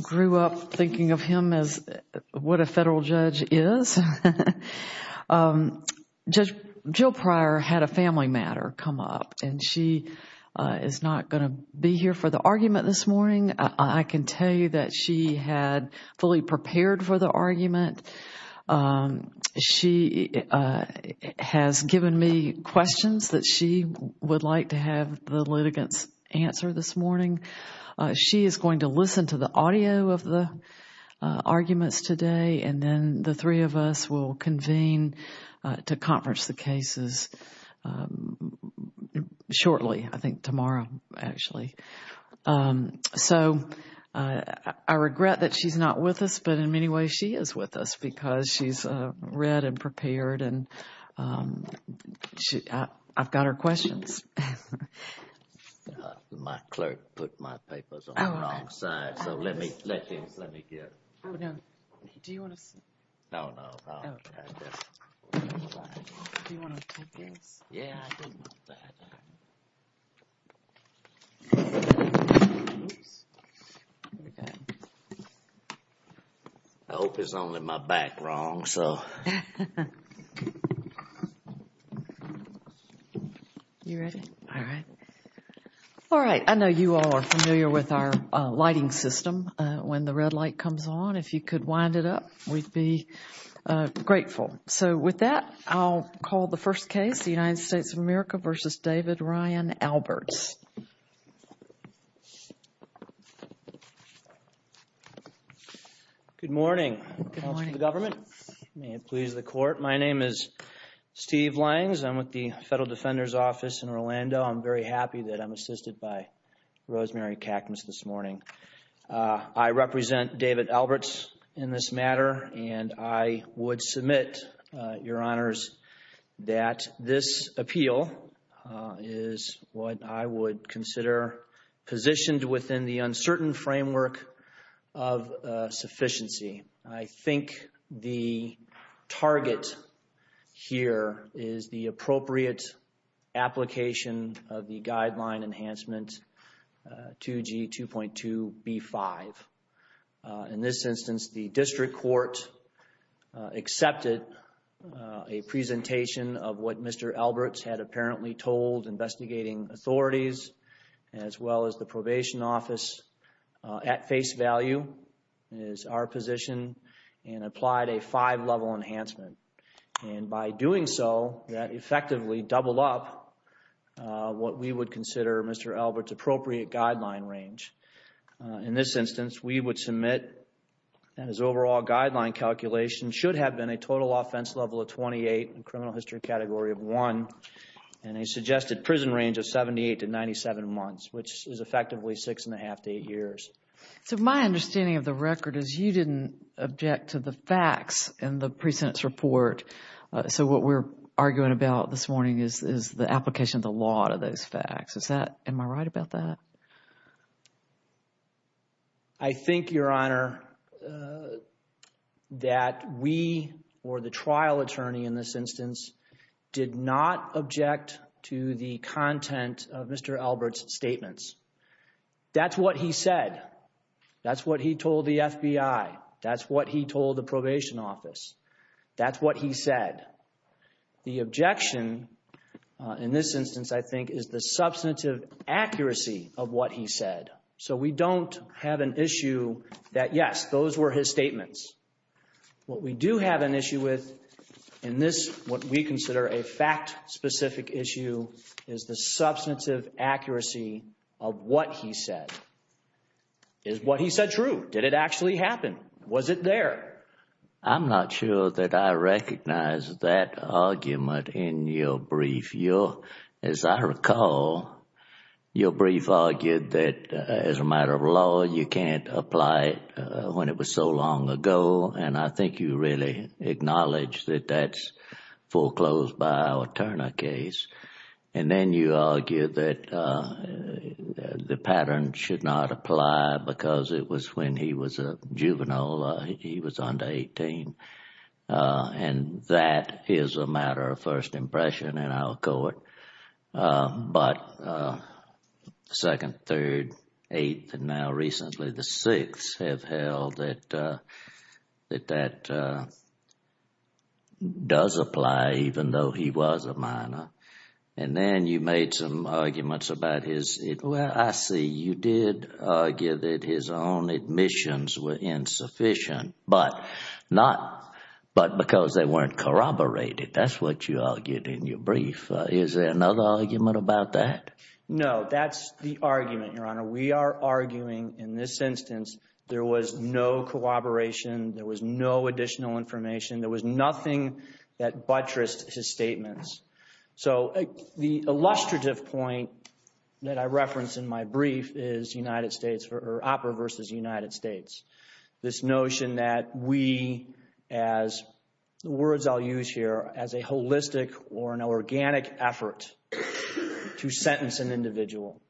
grew up thinking of him as what a federal judge is. Judge Jill Pryor had a family matter come up and she is not going to be here for the argument this morning. I can tell you that she had fully prepared for the argument. She has given me questions that she would like to have the litigants answer this morning. She is going to listen to the audio of the arguments today and then the three of us will convene to conference the cases shortly, I think tomorrow actually. So I regret that she's not with us but in many ways she is with us because she's read and prepared and I've got her questions. My clerk put my papers on the wrong side so let me let me get I hope it's only my back wrong so All right, I know you all are familiar with our lighting system when the red light comes on. If you could wind it up we'd be grateful. So with that I'll call the first case, the United States of America versus David Ryan Alberts. Good morning. May it please the court. My name is Steve Langs. I'm with the Federal Defender's Office in Orlando. I'm very happy that I'm assisted by Rosemary Cackness this morning. I represent David Alberts in this matter and I would submit, Your Honors, that this appeal is what I would consider positioned within the uncertain framework of sufficiency. I think the target here is the appropriate application of the guideline enhancement 2G 2.2b5. In this instance the district court accepted a presentation of what Mr. Alberts had apparently told investigating authorities as well as the probation office at face value is our position and applied a five-level enhancement and by doing so that effectively doubled up what we would consider Mr. Alberts' appropriate guideline range. In this instance we would submit that his overall guideline calculation should have been a total offense level of 28 and criminal history category of 1 and a suggested prison range of 78 to 97 months which is effectively six and a half to eight years. So my understanding of the record is you didn't object to the facts in the pre-sentence report. So what we're arguing about this morning is the application of the law to those facts. Is that, am I right about that? I think, Your Honor, that we or the trial attorney in this instance did not object to the content of the FBI. That's what he told the probation office. That's what he said. The objection in this instance I think is the substantive accuracy of what he said. So we don't have an issue that yes those were his statements. What we do have an issue with in this what we consider a fact-specific issue is the substantive accuracy of what he said. Is what he said true? Did it actually happen? Was it there? I'm not sure that I recognize that argument in your brief. Your, as I recall, your brief argued that as a matter of law you can't apply it when it was so long ago and I think you really acknowledge that that's foreclosed by our Turner case. And then you argue that the pattern should not apply because it was when he was a juvenile. He was under 18 and that is a matter of first impression in our court. But the second, third, eighth, and now recently the sixths have held that that does apply even though he was a minor. And then you made some arguments about his, well I see you did argue that his own admissions were insufficient but not but because they weren't corroborated. That's what you argued in your instance. There was no corroboration. There was no additional information. There was nothing that buttressed his statements. So the illustrative point that I referenced in my brief is United States or OPERA versus United States. This notion that we, as the words I'll use here, as a holistic or an organic effort to sentence an individual.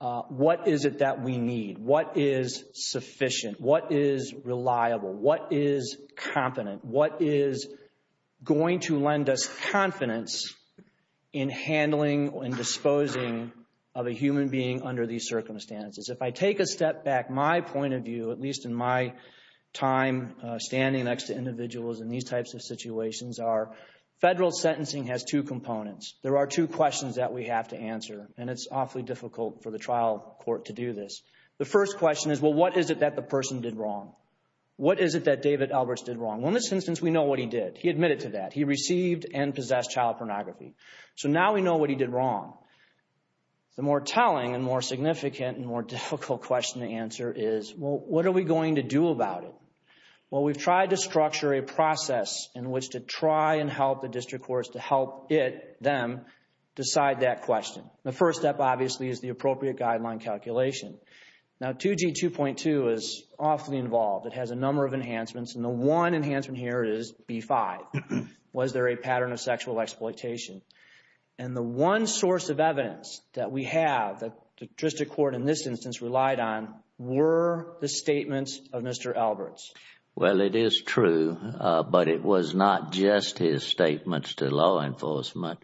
What is it that we need? What is sufficient? What is reliable? What is competent? What is going to lend us confidence in handling and disposing of a human being under these circumstances? If I take a step back, my point of view, at least in my time standing next to individuals in these types of situations, are federal sentencing has two components. There are two questions that we have to answer and it's awfully difficult for the trial court to do this. The first question is, well what is it that the person did wrong? What is it that David Alberts did wrong? Well in this instance we know what he did. He admitted to that. He received and possessed child pornography. So now we know what he did wrong. The more telling and more significant and more difficult question to answer is, well what are we going to do about it? Well we've tried to structure a process in which to try and help the district courts to help it, them, decide that question. The first step obviously is the appropriate guideline calculation. Now 2G2.2 is awfully involved. It has a number of enhancements and the one enhancement here is B5. Was there a pattern of sexual exploitation? And the one source of evidence that we have that the district court in this instance relied on were the statements of Mr. Alberts. Well it is true, but it was not just his statements to law enforcement.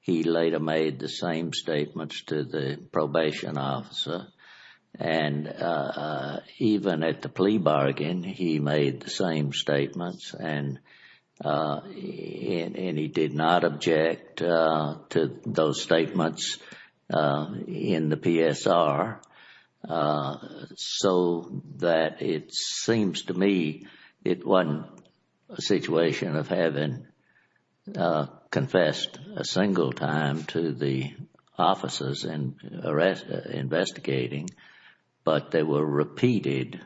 He later made the same statements to the probation officer and even at the plea bargain he made the same statements and he did not object to those statements in the PSR so that it seems to me it wasn't a situation of having confessed a single time to the officers in investigating, but they were repeated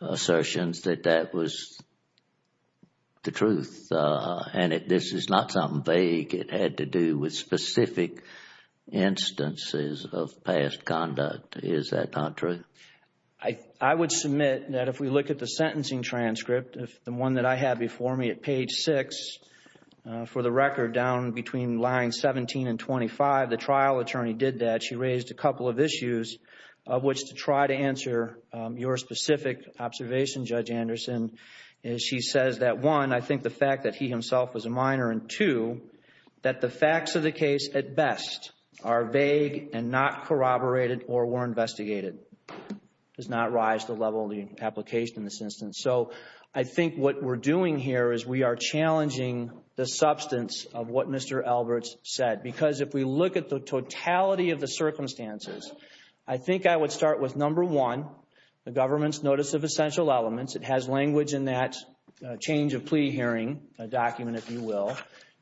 assertions that that was the truth and this is not something vague. It had to do with specific instances of past conduct. Is that not true? I would submit that if we look at the sentencing case number 6, for the record down between line 17 and 25, the trial attorney did that. She raised a couple of issues of which to try to answer your specific observation, Judge Anderson. She says that one, I think the fact that he himself was a minor and two, that the facts of the case at best are vague and not corroborated or were investigated. Does not rise to the level of the application in this challenging the substance of what Mr. Alberts said because if we look at the totality of the circumstances I think I would start with number one, the government's notice of essential elements. It has language in that change of plea hearing, a document if you will.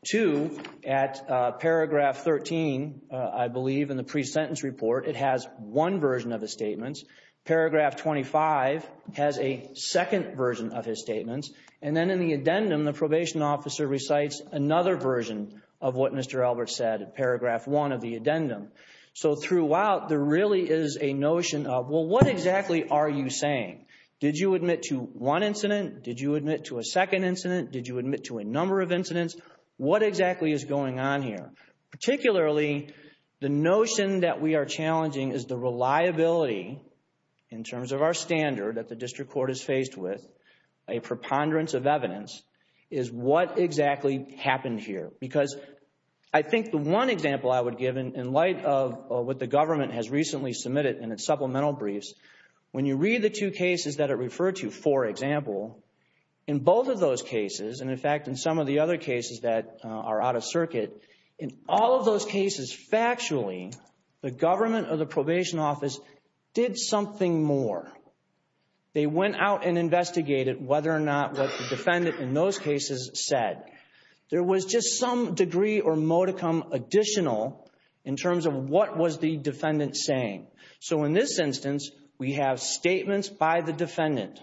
Two, at paragraph 13, I believe in the pre-sentence report it has one version of the statements. Paragraph 25 has a second version of his statements and then in the addendum, the probation officer recites another version of what Mr. Alberts said at paragraph one of the addendum. So throughout, there really is a notion of well what exactly are you saying? Did you admit to one incident? Did you admit to a second incident? Did you admit to a number of incidents? What exactly is going on here? Particularly, the notion that we are challenging is the reliability in terms of our standard that the district court is faced with a preponderance of evidence is what exactly happened here because I think the one example I would give in light of what the government has recently submitted in its supplemental briefs, when you read the two cases that it referred to, for example, in both of those cases and in fact in some of the other cases that are out of circuit, in all of those cases factually the government or the probation office did something more. They went out and investigated whether or not what the defendant in those cases said. There was just some degree or modicum additional in terms of what was the defendant saying. So in this instance, we have statements by the defendant.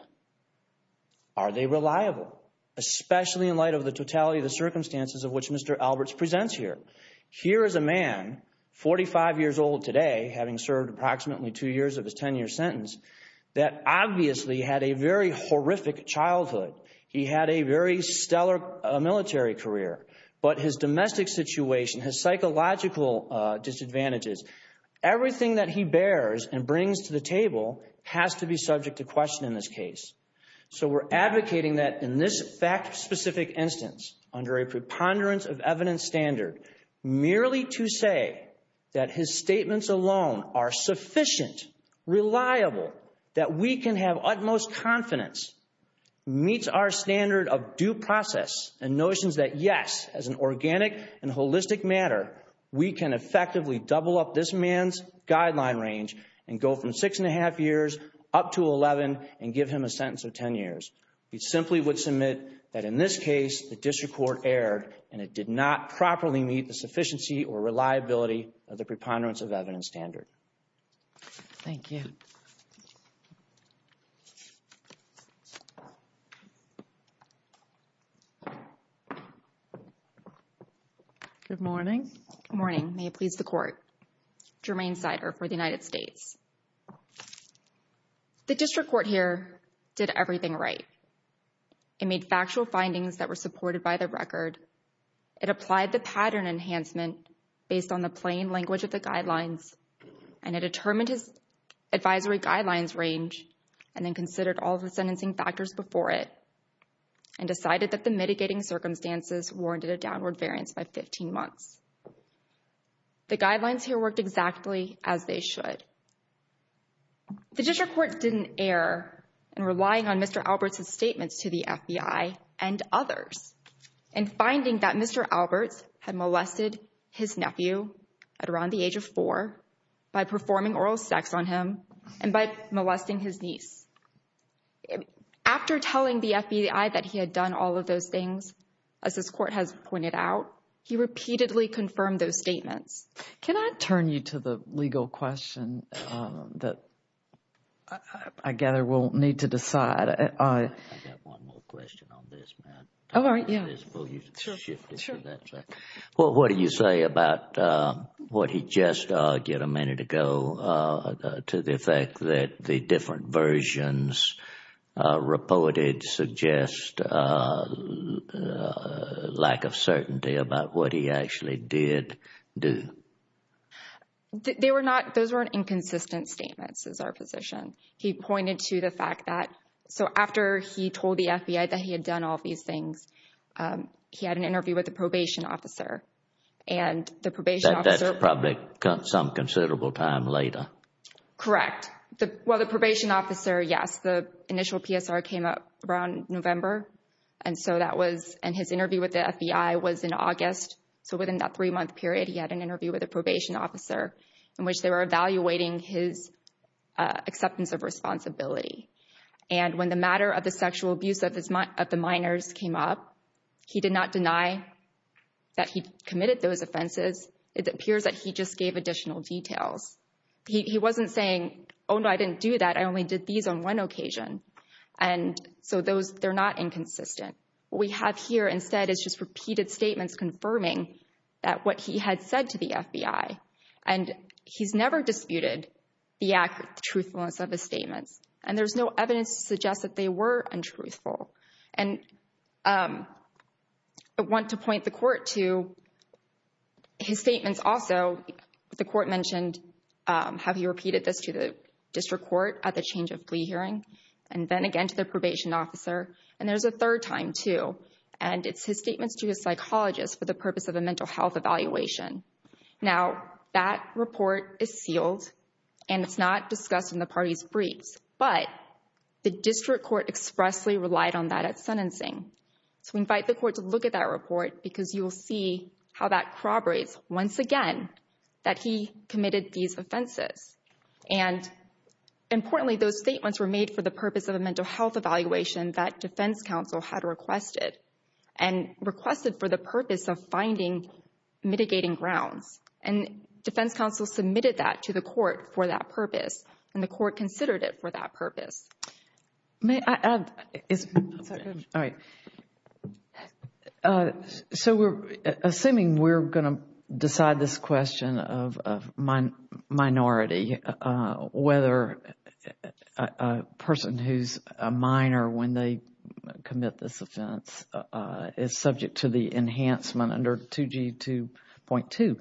Are they reliable? Especially in the totality of the circumstances of which Mr. Alberts presents here. Here is a man, 45 years old today, having served approximately two years of his tenure sentence, that obviously had a very horrific childhood. He had a very stellar military career, but his domestic situation, his psychological disadvantages, everything that he bears and brings to the table has to be subject to question in this instance, under a preponderance of evidence standard, merely to say that his statements alone are sufficient, reliable, that we can have utmost confidence, meets our standard of due process and notions that yes, as an organic and holistic matter, we can effectively double up this man's guideline range and go from six and a half years up to 11 and give him a sentence of 10 years. We simply would submit that in this case, the district court erred and it did not properly meet the sufficiency or reliability of the preponderance of evidence standard. Thank you. Good morning. Good morning. May it please the court. Jermaine Sider for the United States. The district court here did everything right. It made factual findings that were supported by the record. It applied the pattern enhancement based on the plain language of the guidelines and it determined his advisory guidelines range and then considered all the sentencing factors before it and decided that the mitigating circumstances warranted a downward variance by 15 months. The guidelines here worked exactly as they should. The district court didn't err in relying on Mr. Alberts' statements to the FBI and others and finding that Mr. Alberts had molested his nephew at around the age of four by performing oral sex on him and by molesting his niece. After telling the FBI that he had done all of those things, as this court has pointed out, he repeatedly confirmed those statements. Can I turn you to the legal question that I gather we'll need to decide. I got one more question on this, ma'am. All right, yeah. What do you say about what he just argued a minute ago to the effect that the different versions reported suggest a lack of certainty about what he actually did do? They were not, those were inconsistent statements is our position. He pointed to the fact that, so after he told the FBI that he had done all these things, he had an interview with the probation officer and the probation officer. That's probably some considerable time later. Correct. Well, the probation officer, yes, the initial PSR came up around November and so that was, and his interview with the FBI was in August. So within that three month period, he had an interview with a probation officer in which they were evaluating his acceptance of responsibility. And when the matter of the sexual abuse of the minors came up, he did not say, oh no, I didn't do that. I only did these on one occasion. And so those, they're not inconsistent. What we have here instead is just repeated statements confirming that what he had said to the FBI. And he's never disputed the truthfulness of his statements. And there's no evidence to suggest that they were untruthful. And I want to point the court to his statements also. The court mentioned, um, have you repeated this to the district court at the change of plea hearing? And then again to the probation officer. And there's a third time too. And it's his statements to a psychologist for the purpose of a mental health evaluation. Now that report is sealed and it's not discussed in the party's briefs, but the district court expressly relied on that at sentencing. So we invite the court to look at that report because you will see how that corroborates once again that he committed these offenses. And importantly, those statements were made for the purpose of a mental health evaluation that defense counsel had requested. And requested for the purpose of finding mitigating grounds. And defense counsel submitted that to the court for that purpose. And the court considered it for that purpose. May I add? All right. So we're assuming we're going to decide this question of minority, whether a person who's a minor when they commit this offense is subject to the enhancement under 2G2.2.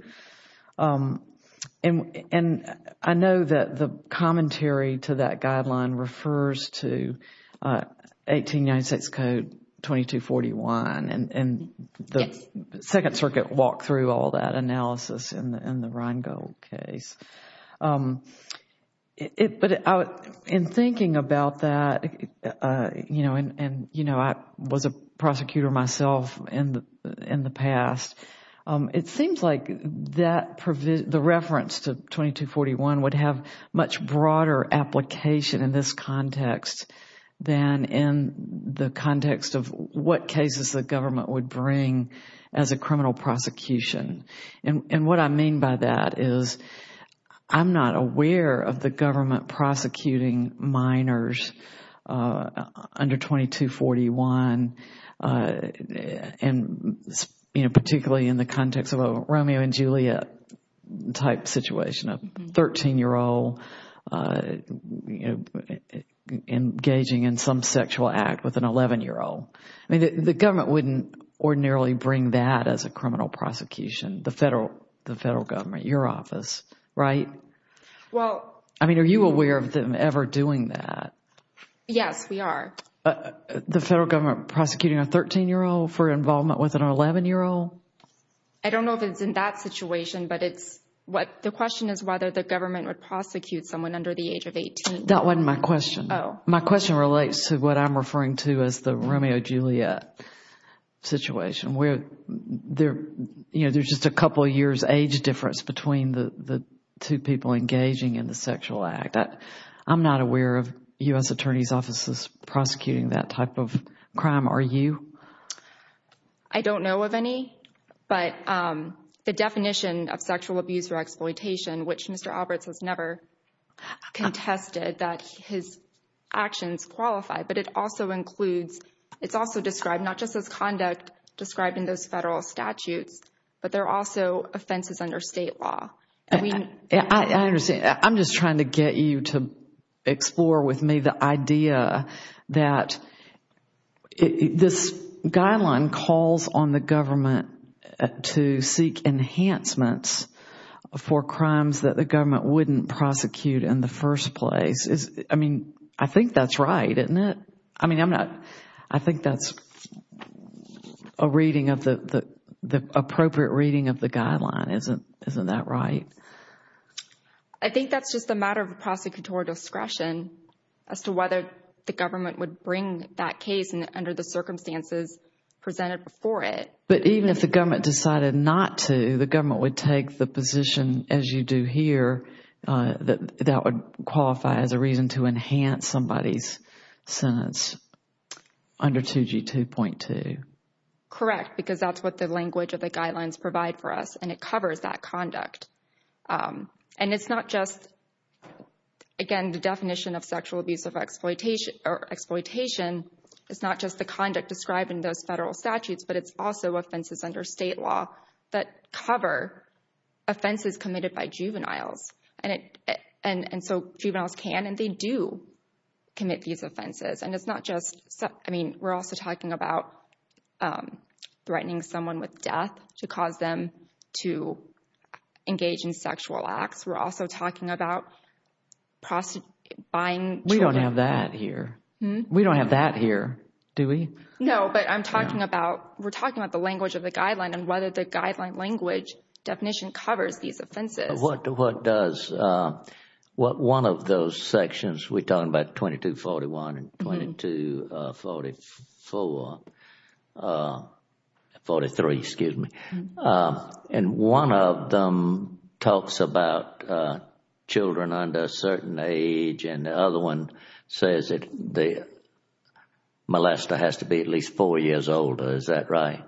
And I know that the commentary to that guideline refers to 1896 Code 2241. And the Second Circuit walked through all that analysis in the Rheingold case. But in thinking about that, you know, I was a prosecutor myself in the past. It seems like the reference to 2241 would have much broader application in this context than in the context of what cases the government would bring as a criminal prosecution. And what I mean by that is I'm not aware of the government prosecuting minors under 2241 and, you know, particularly in the context of a Romeo and Juliet type situation, a 13-year-old engaging in some sexual act with an 11-year-old. I mean, the government wouldn't ordinarily bring that as a criminal prosecution. The federal government, your office, right? Well. I mean, are you aware of them ever doing that? Yes, we are. The federal government prosecuting a 13-year-old for involvement with an 11-year-old? I don't know if it's in that situation, but it's what, the question is whether the government would prosecute someone under the age of 18. That wasn't my question. Oh. My question relates to what I'm referring to as the Romeo-Juliet situation where there, you know, there's just a couple of years age difference between the two people engaging in the sexual act. I'm not aware of U.S. attorney's offices prosecuting that type of crime. Are you? I don't know of any, but the definition of sexual abuse or exploitation, which Mr. Alberts has never contested that his actions qualify, but it also includes, it's also described not just as conduct described in those federal statutes, but they're also offenses under state law. I understand. I'm just trying to get you to explore with me the idea that this guideline calls on the government to seek enhancements for crimes that the government wouldn't prosecute in the first place. I mean, I think that's right, isn't it? I mean, I'm not, I think that's a reading of the, the appropriate reading of the guideline. Isn't, isn't that right? I think that's just a matter of prosecutorial discretion as to whether the government would bring that case under the circumstances presented before it. But even if the government decided not to, the government would take the position as you do here that that would qualify as a reason to enhance somebody's sentence under 2G2.2. Correct, because that's what the language of the guidelines provide for us, and it covers that conduct. And it's not just, again, the definition of sexual abuse of exploitation, or exploitation, it's not just the conduct described in those federal statutes, but it's also offenses under state law that cover offenses committed by juveniles. And it, and so juveniles can and they do commit these offenses. And it's not just, I mean, we're also talking about threatening someone with death to cause them to engage in sexual acts. We're also talking about buying children. We don't have that here. We don't have that here, do we? No, but I'm talking about, we're talking about the language of the guideline and whether the guideline language definition covers these offenses. What does, what one of those sections, we're talking about 2241 and 2244, 43, excuse me. And one of them talks about children under a certain age, and the other one says that the has to be at least four years old. Is that right?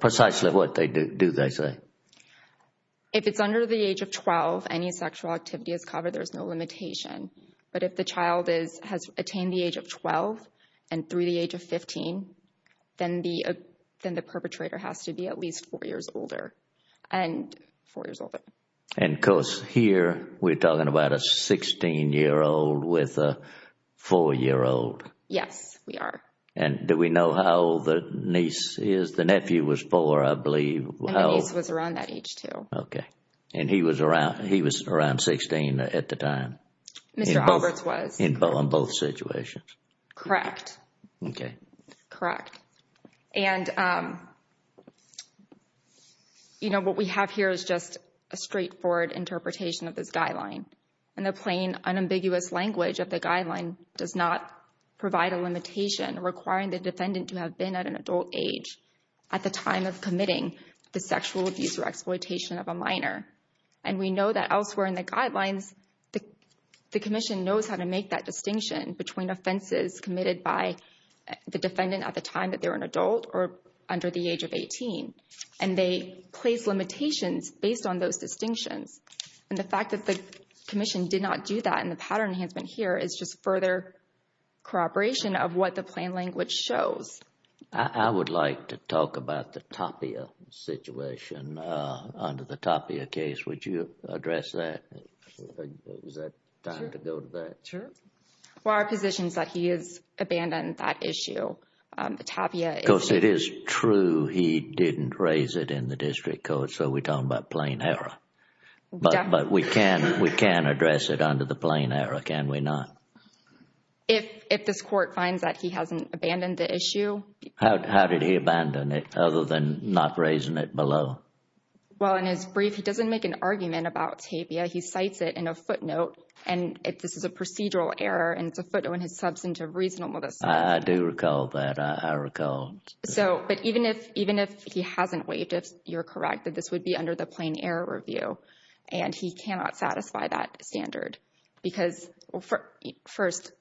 Precisely what they do, do they say? If it's under the age of 12, any sexual activity is covered, there's no limitation. But if the child is, has attained the age of 12 and through the age of 15, then the, then the perpetrator has to be at least four years older, and four years older. And of course, here we're talking about a 16-year-old with a four-year-old. Yes, we are. And do we know how old the niece is? The nephew was four, I believe. And the niece was around that age, too. Okay. And he was around, he was around 16 at the time. Mr. Alberts was. In both situations. Correct. Okay. Correct. And, you know, what we have here is just a straightforward interpretation of this guideline. And the plain, unambiguous language of the guideline does not provide a limitation requiring the defendant to have been at an adult age at the time of committing the sexual abuse or exploitation of a minor. And we know that elsewhere in the guidelines, the commission knows how to make that distinction between offenses committed by the defendant at the time that they're an adult or under the age of 18. And they place limitations based on those distinctions. And the fact that the commission did not do that, and the pattern enhancement here, is just further corroboration of what the plain language shows. I would like to talk about the Tapia situation. Under the Tapia case, would you address that? Is that time to go to that? Sure. For our positions that he has abandoned that issue, Tapia is. Because it is true he didn't raise it in the district code, so we're talking about plain error. But we can address it under the plain error, can we not? If this court finds that he hasn't abandoned the issue. How did he abandon it, other than not raising it below? Well, in his brief, he doesn't make an argument about Tapia. He cites it in a footnote. And this is a procedural error, and it's a footnote in his substantive reasonable. I do recall that. I recall. So, but even if he hasn't waived, if you're correct, that this would be under the plain error review, and he cannot satisfy that standard. Because first,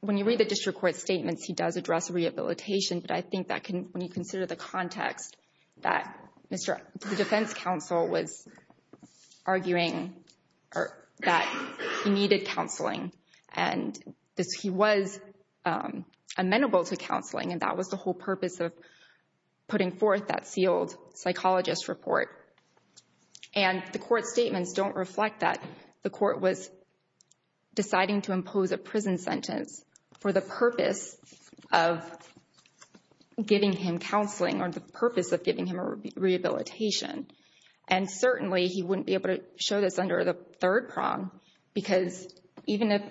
when you read the district court statements, he does address rehabilitation. But I think that when you consider the context, that the defense counsel was arguing that he needed counseling. And he was amenable to counseling. And that was the whole purpose of putting forth that sealed psychologist report. And the court statements don't reflect that. The court was deciding to impose a prison sentence for the purpose of giving him counseling, or the purpose of giving him a rehabilitation. And certainly, he wouldn't be able to show this under the third prong, because even if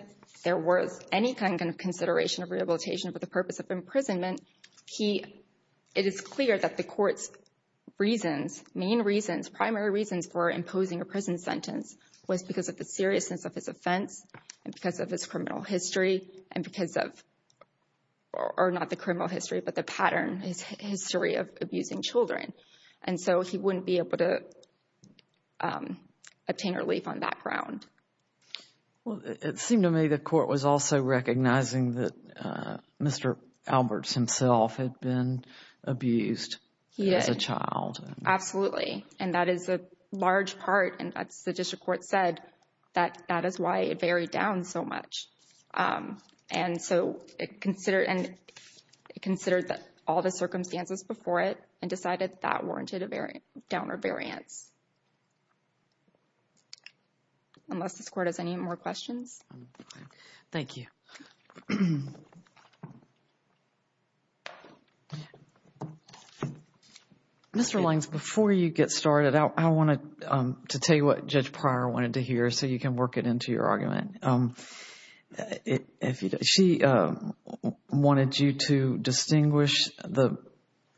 there was any kind of consideration of rehabilitation for the purpose of imprisonment, he, it is clear that the court's reasons, main reasons, primary reasons for imposing a prison sentence was because of the seriousness of his offense, and because of his criminal history, and because of, or not the criminal history, but the pattern, his history of abusing children. And so he wouldn't be able to obtain relief on that ground. Well, it seemed to me the court was also recognizing that Mr. Alberts himself had been abused as a child. Absolutely. And that is a large part, and as the district court said, that that is why it varied down so much. And so it considered, and it considered all the circumstances before it, and decided that warranted a downer variance. Unless this court has any more questions. Thank you. Mr. Langs, before you get started, I wanted to tell you what Judge Pryor wanted to hear, so you can work it into your argument. If you, she wanted you to distinguish the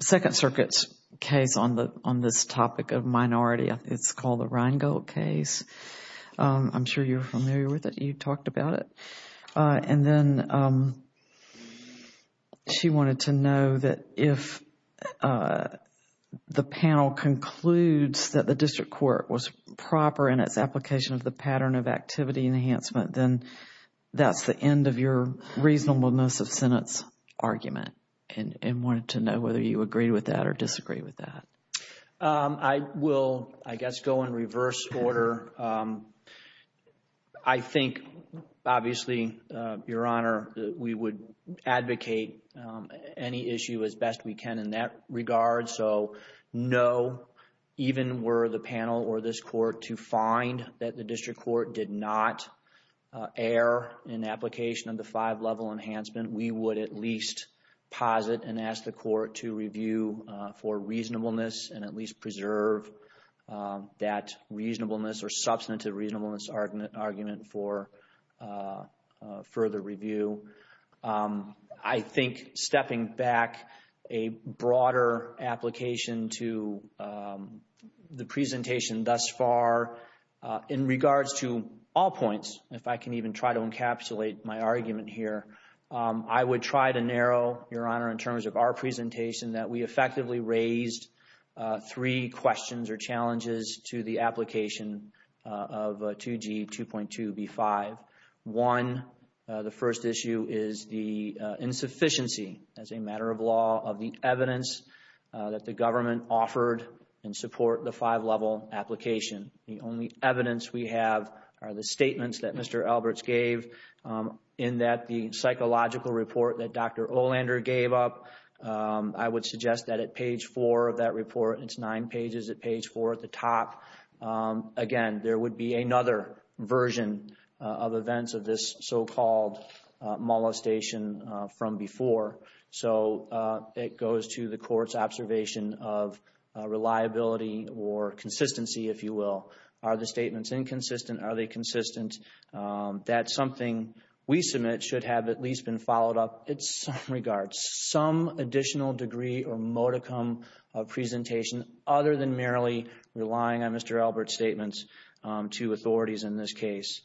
Second Circuit's case on the, on this topic of minority, it's called the Rheingold case. I'm sure you're familiar with it. You talked about it. And then she wanted to know that if the panel concludes that the district court was proper in its application of the pattern of activity enhancement, then that's the end of your reasonableness of sentence argument, and wanted to know whether you agree with that or disagree with that. I will, I guess, go in reverse order. I think, obviously, Your Honor, we would advocate any issue as best we can in that regard. So, no, even were the panel or this court to find that the district court did not err in application of the five-level enhancement, we would at least posit and ask the court to review for reasonableness and at least preserve that reasonableness or substantive reasonableness argument for further review. I think stepping back a broader application to the presentation thus far in regards to all points, if I can even try to encapsulate my argument here, I would try to narrow, Your Honor, the application that we effectively raised three questions or challenges to the application of 2G 2.2b5. One, the first issue is the insufficiency, as a matter of law, of the evidence that the government offered in support of the five-level application. The only evidence we have are the statements that Mr. Alberts gave in that the psychological report that Dr. Olander gave up. I would suggest that at page four of that report, it's nine pages at page four at the top, again, there would be another version of events of this so-called molestation from before. So, it goes to the court's observation of reliability or consistency, if you will. Are the statements inconsistent? Are they consistent? That's something we submit should have at least been followed up in some regards, some additional degree or modicum of presentation other than merely relying on Mr. Alberts' statements to authorities in this case,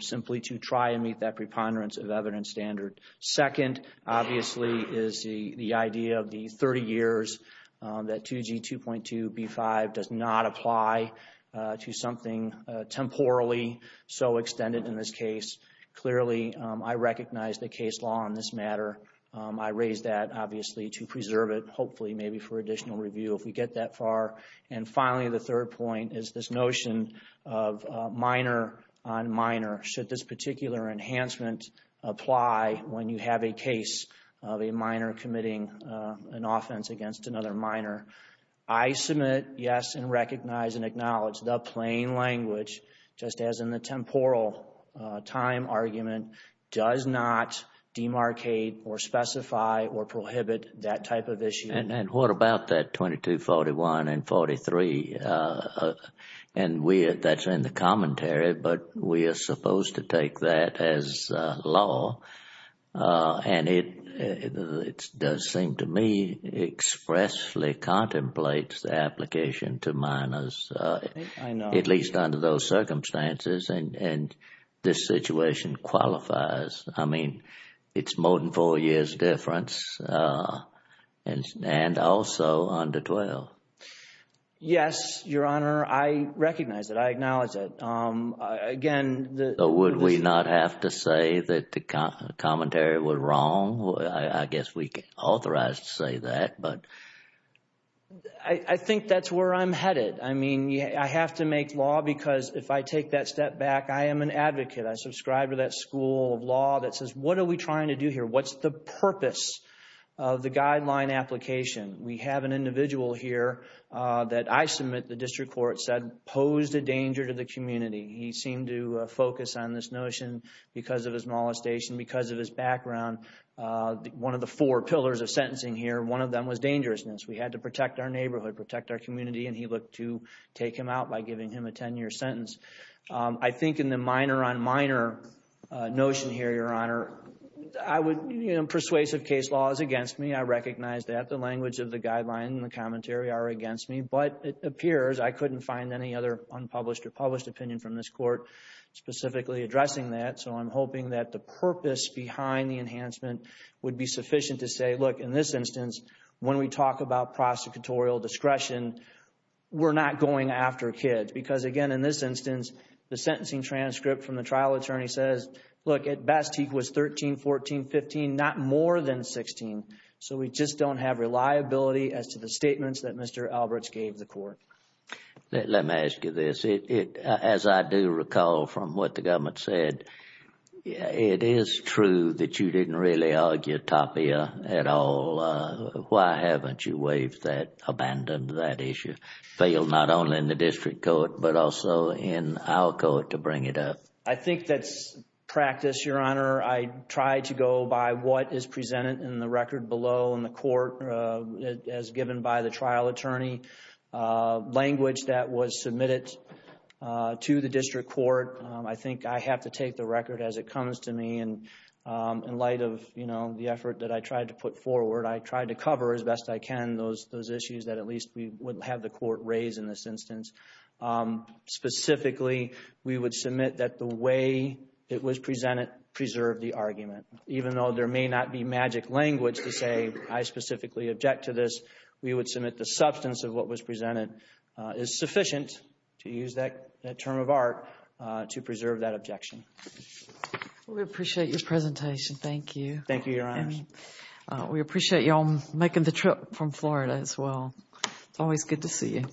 simply to try and meet that preponderance of evidence standard. Second, obviously, is the idea of the 30 years that 2G 2.2b5 does not apply to something temporally so extended in this case. Clearly, I recognize the case law on this matter. I raise that, obviously, to preserve it, hopefully, maybe for additional review if we get that far. And finally, the third point is this notion of minor on minor. Should this particular enhancement apply when you have a case of a minor committing an offense against another minor? I submit yes and recognize and acknowledge the plain language, just as in the temporal time argument, does not demarcate or specify or prohibit that type of issue. And what about that 2241 and 43? And that's in the commentary, but we are supposed to take that as law. And it does seem to me expressly contemplates the application to minors, at least under those circumstances, and this situation qualifies. I mean, it's more than four years difference and also under 12. Yes, Your Honor. I recognize it. I acknowledge it. Again, would we not have to say that the commentary was wrong? I guess we can authorize to say that, but I think that's where I'm headed. I mean, I have to make law because if I take that step back, I am an advocate. I subscribe to that school of law that says, what are we trying to do here? What's the purpose of the guideline application? We have an individual here that I submit the district court said posed a danger to the community. He seemed to focus on this notion because of his molestation, because of his background. One of the four pillars of sentencing here, one of them was dangerousness. We had to protect our neighborhood, protect our community, and he looked to take him out by giving him a 10-year sentence. I think in the minor on minor notion here, Your Honor, persuasive case law is against me. I recognize that. The language of the guideline and the commentary are against me, but it appears I couldn't find any other unpublished or published opinion from this court specifically addressing that. So I'm hoping that the purpose behind the enhancement would be sufficient to say, look, in this instance, when we talk about prosecutorial discretion, we're not going after kids. Because again, in this instance, the sentencing transcript from the trial attorney says, look, at best he was 13, 14, 15, not more than 16. So we just don't have reliability as to the statements that Mr. Alberts gave the court. Let me ask you this. As I do recall from what the government said, it is true that you didn't really argue Tapia at all. Why haven't you waived that, abandoned that issue? Failed not only in the district court, but also in our court to bring it up. I think that's practice, Your Honor. I try to go by what is presented in the record below in the court as given by the trial attorney. Language that was submitted to the district court, I think I have to take the record as it comes to me. And in light of, you know, the effort that I tried to put forward, I tried to cover as best I can those issues that at least we would have the court raise in this instance. Specifically, we would submit that the way it was presented preserved the argument. Even though there may not be magic language to say I specifically object to this, we would it's sufficient to use that term of art to preserve that objection. We appreciate your presentation. Thank you. Thank you, Your Honor. We appreciate you all making the trip from Florida as well. It's always good to see you.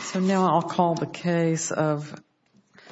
So now I'll call the case of